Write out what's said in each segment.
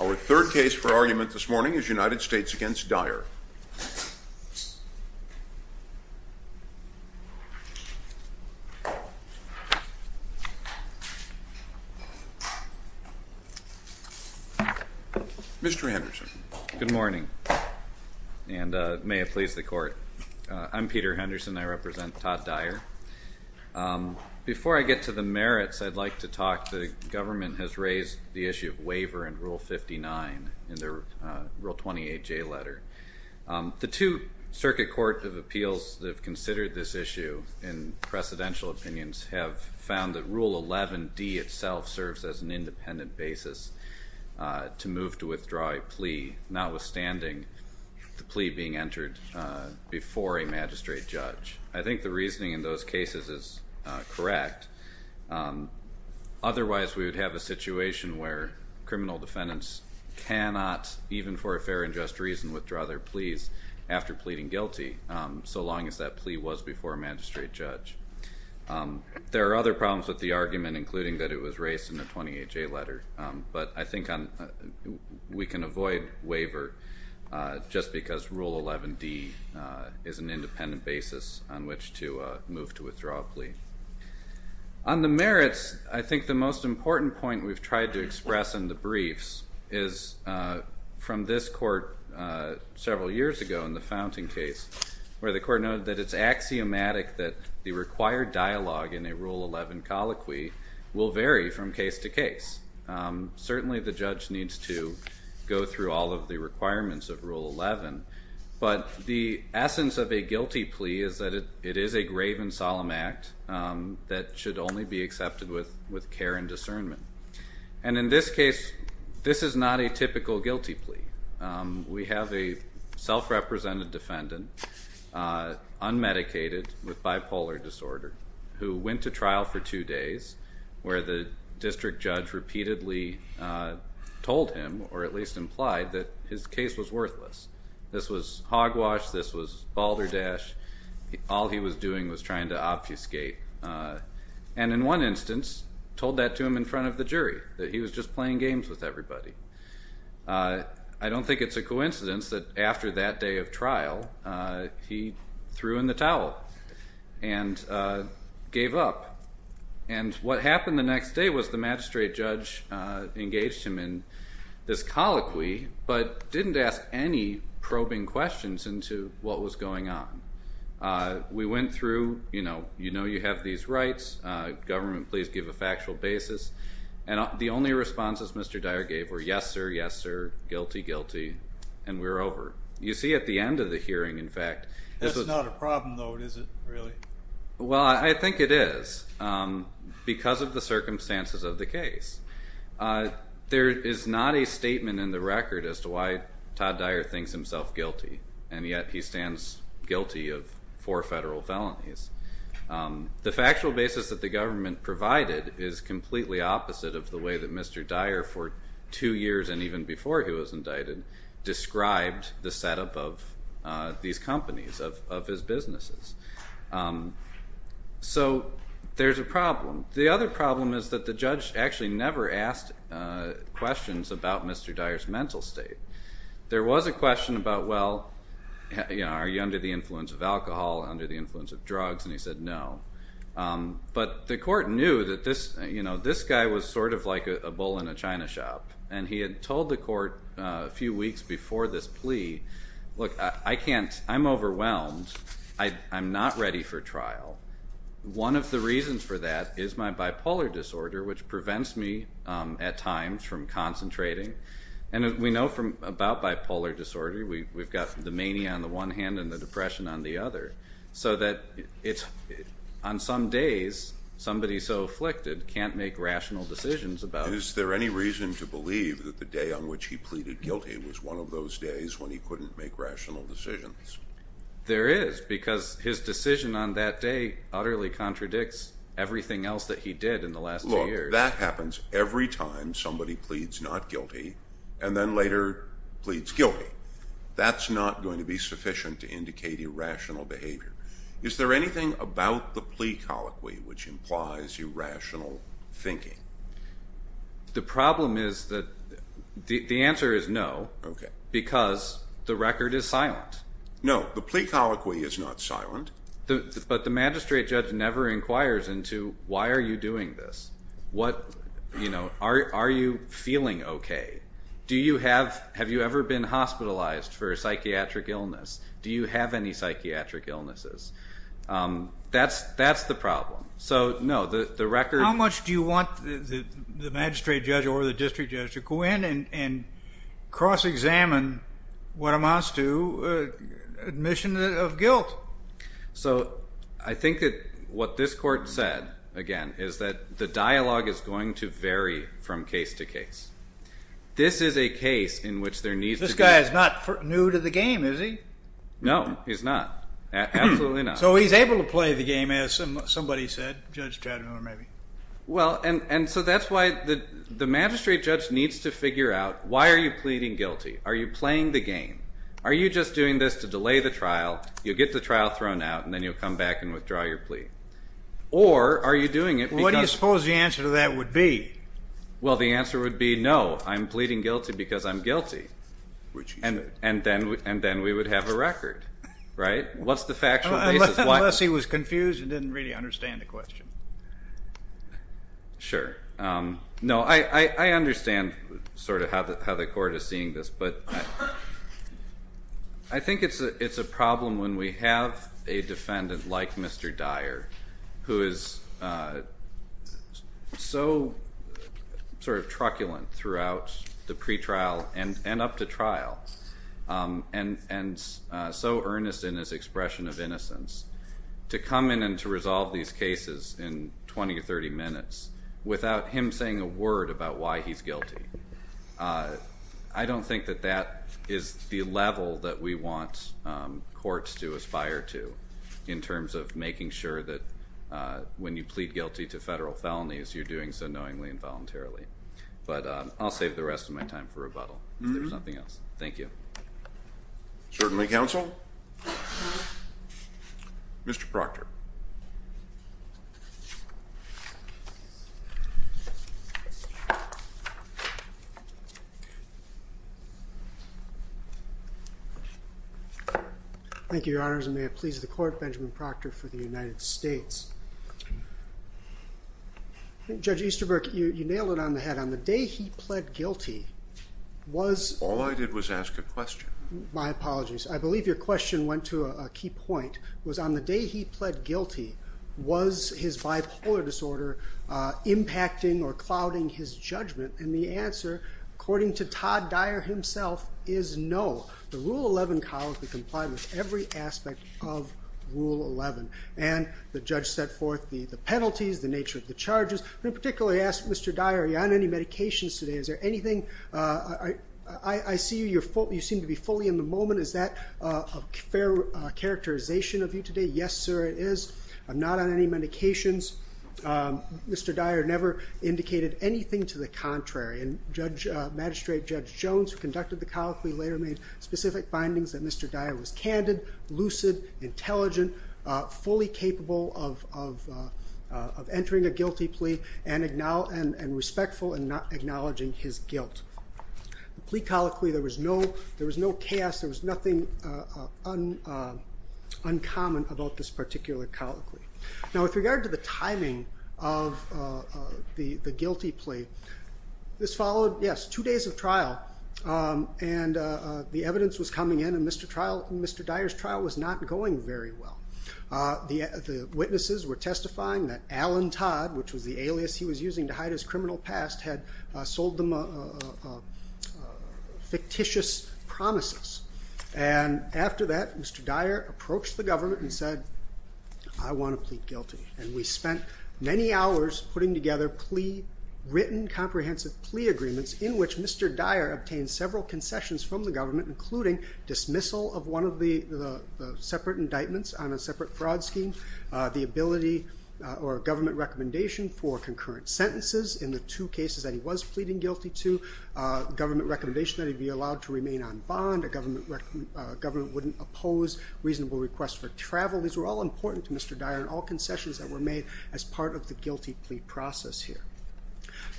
Our third case for argument this morning is United States v. Dyer. Mr. Henderson. Good morning, and may it please the Court. I'm Peter Henderson. I represent Todd Dyer. Before I get to the merits, I'd like to talk. The government has raised the issue of waiver in Rule 59 in their Rule 28J letter. The two circuit court of appeals that have considered this issue in precedential opinions have found that Rule 11D itself serves as an independent basis to move to withdraw a plea, notwithstanding the plea being entered before a magistrate judge. I think the reasoning in those cases is correct. Otherwise, we would have a situation where criminal defendants cannot, even for a fair and just reason, withdraw their pleas after pleading guilty, so long as that plea was before a magistrate judge. There are other problems with the argument, including that it was raised in the 28J letter, but I think we can avoid waiver just because Rule 11D is an independent basis on which to move to withdraw a plea. On the merits, I think the most important point we've tried to express in the briefs is from this Court several years ago in the Fountain case, where the Court noted that it's axiomatic that the required dialogue in a Rule 11 colloquy will vary from case to case. Certainly the judge needs to go through all of the requirements of Rule 11, but the essence of a guilty plea is that it is a grave and solemn act that should only be accepted with care and discernment. And in this case, this is not a typical guilty plea. We have a self-represented defendant, unmedicated, with bipolar disorder, who went to trial for two days, where the district judge repeatedly told him, or at least implied, that his case was worthless. This was hogwash, this was balderdash, all he was doing was trying to obfuscate. And in one instance, told that to him in front of the jury, that he was just playing games with everybody. I don't think it's a coincidence that after that day of trial, he threw in the towel and gave up. And what happened the next day was the magistrate judge engaged him in this colloquy, but didn't ask any probing questions into what was going on. We went through, you know, you have these rights, government, please give a factual basis, and the only responses Mr. Dyer gave were, yes sir, yes sir, guilty, guilty, and we're over. You see at the end of the hearing, in fact, this was... That's not a problem, though, is it, really? Well, I think it is, because of the circumstances of the case. There is not a statement in the record as to why Todd Dyer thinks himself guilty, and yet he stands guilty of four federal felonies. The factual basis that the government provided is completely opposite of the way that Mr. Dyer, for two years and even before he was indicted, described the setup of these companies, of his businesses. So there's a problem. The other problem is that the judge actually never asked questions about Mr. Dyer's mental state. There was a question about, well, are you under the influence of alcohol, under the influence of drugs? And he said no. But the court knew that this guy was sort of like a bull in a china shop, and he had told the court a few weeks before this plea, look, I can't, I'm overwhelmed, I'm not ready for trial. One of the reasons for that is my bipolar disorder, which prevents me at times from concentrating. And we know about bipolar disorder. We've got the mania on the one hand and the depression on the other, so that on some days somebody so afflicted can't make rational decisions about it. Is there any reason to believe that the day on which he pleaded guilty was one of those days when he couldn't make rational decisions? There is, because his decision on that day utterly contradicts everything else that he did in the last two years. That happens every time somebody pleads not guilty and then later pleads guilty. That's not going to be sufficient to indicate irrational behavior. Is there anything about the plea colloquy which implies irrational thinking? The problem is that the answer is no, because the record is silent. No, the plea colloquy is not silent. But the magistrate judge never inquires into why are you doing this? What, you know, are you feeling okay? Do you have, have you ever been hospitalized for a psychiatric illness? Do you have any psychiatric illnesses? That's the problem. So, no, the record. How much do you want the magistrate judge or the district judge to go in and cross-examine what amounts to admission of guilt? So I think that what this court said, again, is that the dialogue is going to vary from case to case. This is a case in which there needs to be. This guy is not new to the game, is he? No, he's not. Absolutely not. So he's able to play the game, as somebody said, Judge Chatham or maybe. Well, and so that's why the magistrate judge needs to figure out why are you pleading guilty? Are you playing the game? Are you just doing this to delay the trial? You'll get the trial thrown out, and then you'll come back and withdraw your plea. Or are you doing it because... Well, what do you suppose the answer to that would be? Well, the answer would be no, I'm pleading guilty because I'm guilty. Which is... And then we would have a record, right? What's the factual basis? Unless he was confused and didn't really understand the question. Sure. No, I understand sort of how the court is seeing this, but I think it's a problem when we have a defendant like Mr. Dyer, who is so sort of truculent throughout the pretrial and up to trial, and so earnest in his expression of innocence, to come in and to resolve these cases in 20 or 30 minutes without him saying a word about why he's guilty. I don't think that that is the level that we want courts to aspire to, in terms of making sure that when you plead guilty to federal felonies, you're doing so knowingly and voluntarily. But I'll save the rest of my time for rebuttal, if there's nothing else. Thank you. Certainly, counsel. Mr. Proctor. Thank you, Your Honors, and may it please the court, Benjamin Proctor for the United States. Judge Easterbrook, you nailed it on the head. On the day he pled guilty, was... All I did was ask a question. My apologies. I believe your question went to a key point, was on the day he pled guilty, was his bipolar disorder impacting or clouding his judgment? And the answer, according to Todd Dyer himself, is no. The Rule 11 Clause would comply with every aspect of Rule 11. And the judge set forth the penalties, the nature of the charges. Let me particularly ask Mr. Dyer, are you on any medications today? Is there anything... I see you seem to be fully in the moment. Is that a fair characterization of you today? Yes, sir, it is. I'm not on any medications. Mr. Dyer never indicated anything to the contrary. And Magistrate Judge Jones, who conducted the colloquy, later made specific findings that Mr. Dyer was candid, lucid, intelligent, fully capable of entering a guilty plea and respectful in not acknowledging his guilt. The plea colloquy, there was no chaos. There was nothing uncommon about this particular colloquy. Now, with regard to the timing of the guilty plea, this followed, yes, two days of trial, and the evidence was coming in, and Mr. Dyer's trial was not going very well. The witnesses were testifying that Alan Todd, which was the alias he was using to hide his criminal past, had sold them fictitious promises. And after that, Mr. Dyer approached the government and said, I want to plead guilty. And we spent many hours putting together written comprehensive plea agreements in which Mr. Dyer obtained several concessions from the government, including dismissal of one of the separate indictments on a separate fraud scheme, the ability or government recommendation for concurrent sentences in the two cases that he was pleading guilty to, government recommendation that he be allowed to remain on bond, a government wouldn't oppose reasonable request for travel. These were all important to Mr. Dyer, and all concessions that were made as part of the guilty plea process here.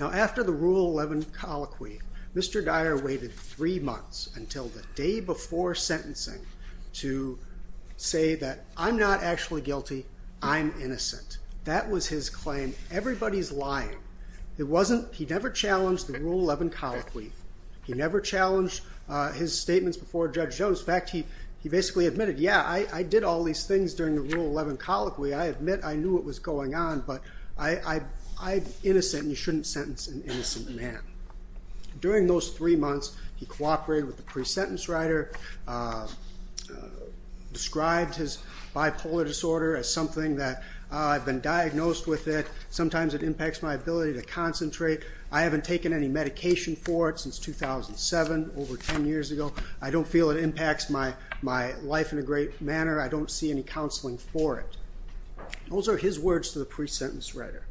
Now, after the Rule 11 colloquy, Mr. Dyer waited three months until the day before sentencing to say that I'm not actually guilty, I'm innocent. That was his claim. Everybody's lying. He never challenged the Rule 11 colloquy. He never challenged his statements before Judge Jones. In fact, he basically admitted, yeah, I did all these things during the Rule 11 colloquy. I admit I knew what was going on, but I'm innocent, and you shouldn't sentence an innocent man. During those three months, he cooperated with the pre-sentence writer, described his bipolar disorder as something that, I've been diagnosed with it. Sometimes it impacts my ability to concentrate. I haven't taken any medication for it since 2007, over 10 years ago. I don't feel it impacts my life in a great manner. I don't see any counseling for it. Those are his words to the pre-sentence writer.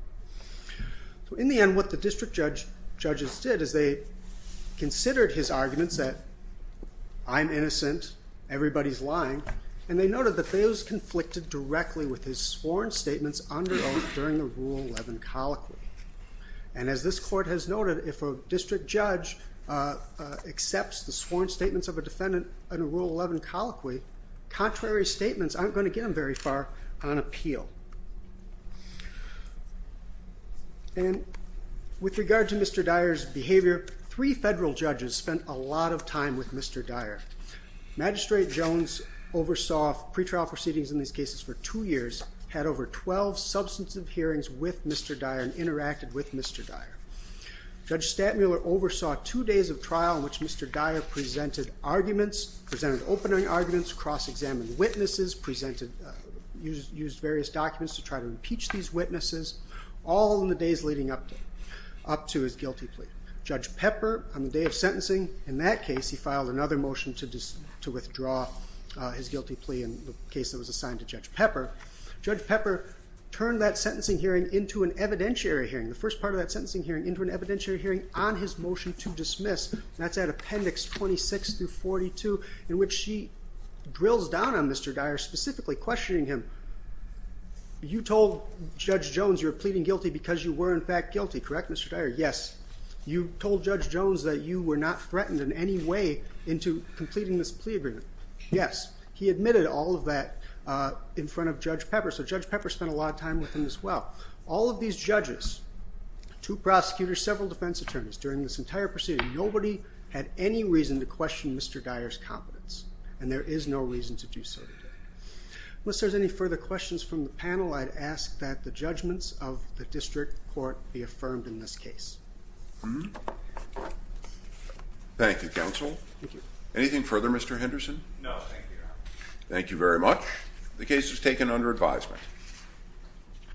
In the end, what the district judges did is they considered his arguments that I'm innocent, everybody's lying, and they noted that they was conflicted directly with his sworn statements under oath during the Rule 11 colloquy. As this court has noted, if a district judge accepts the sworn statements of a defendant under Rule 11 colloquy, contrary statements aren't going to get him very far on appeal. With regard to Mr. Dyer's behavior, three federal judges spent a lot of time with Mr. Dyer. Magistrate Jones oversaw pretrial proceedings in these cases for two years, had over 12 substantive hearings with Mr. Dyer and interacted with Mr. Dyer. Judge Stantmuller oversaw two days of trial in which Mr. Dyer presented arguments, presented opening arguments, cross-examined witnesses, used various documents to try to impeach these witnesses, all in the days leading up to his guilty plea. Judge Pepper, on the day of sentencing, in that case, he filed another motion to withdraw his guilty plea in the case that was assigned to Judge Pepper. Judge Pepper turned that sentencing hearing into an evidentiary hearing, the first part of that sentencing hearing, into an evidentiary hearing on his motion to dismiss. That's at Appendix 26-42, in which she drills down on Mr. Dyer, specifically questioning him. You told Judge Jones you were pleading guilty because you were in fact guilty, correct, Mr. Dyer? Yes. You told Judge Jones that you were not threatened in any way into completing this plea agreement? Yes. He admitted all of that in front of Judge Pepper, so Judge Pepper spent a lot of time with him as well. All of these judges, two prosecutors, several defense attorneys, during this entire proceeding, nobody had any reason to question Mr. Dyer's competence, Unless there's any further questions from the panel, I'd ask that the judgments of the district court be affirmed in this case. Thank you, Counsel. Thank you. Anything further, Mr. Henderson? No, thank you, Your Honor. Thank you very much. The case is taken under advisement.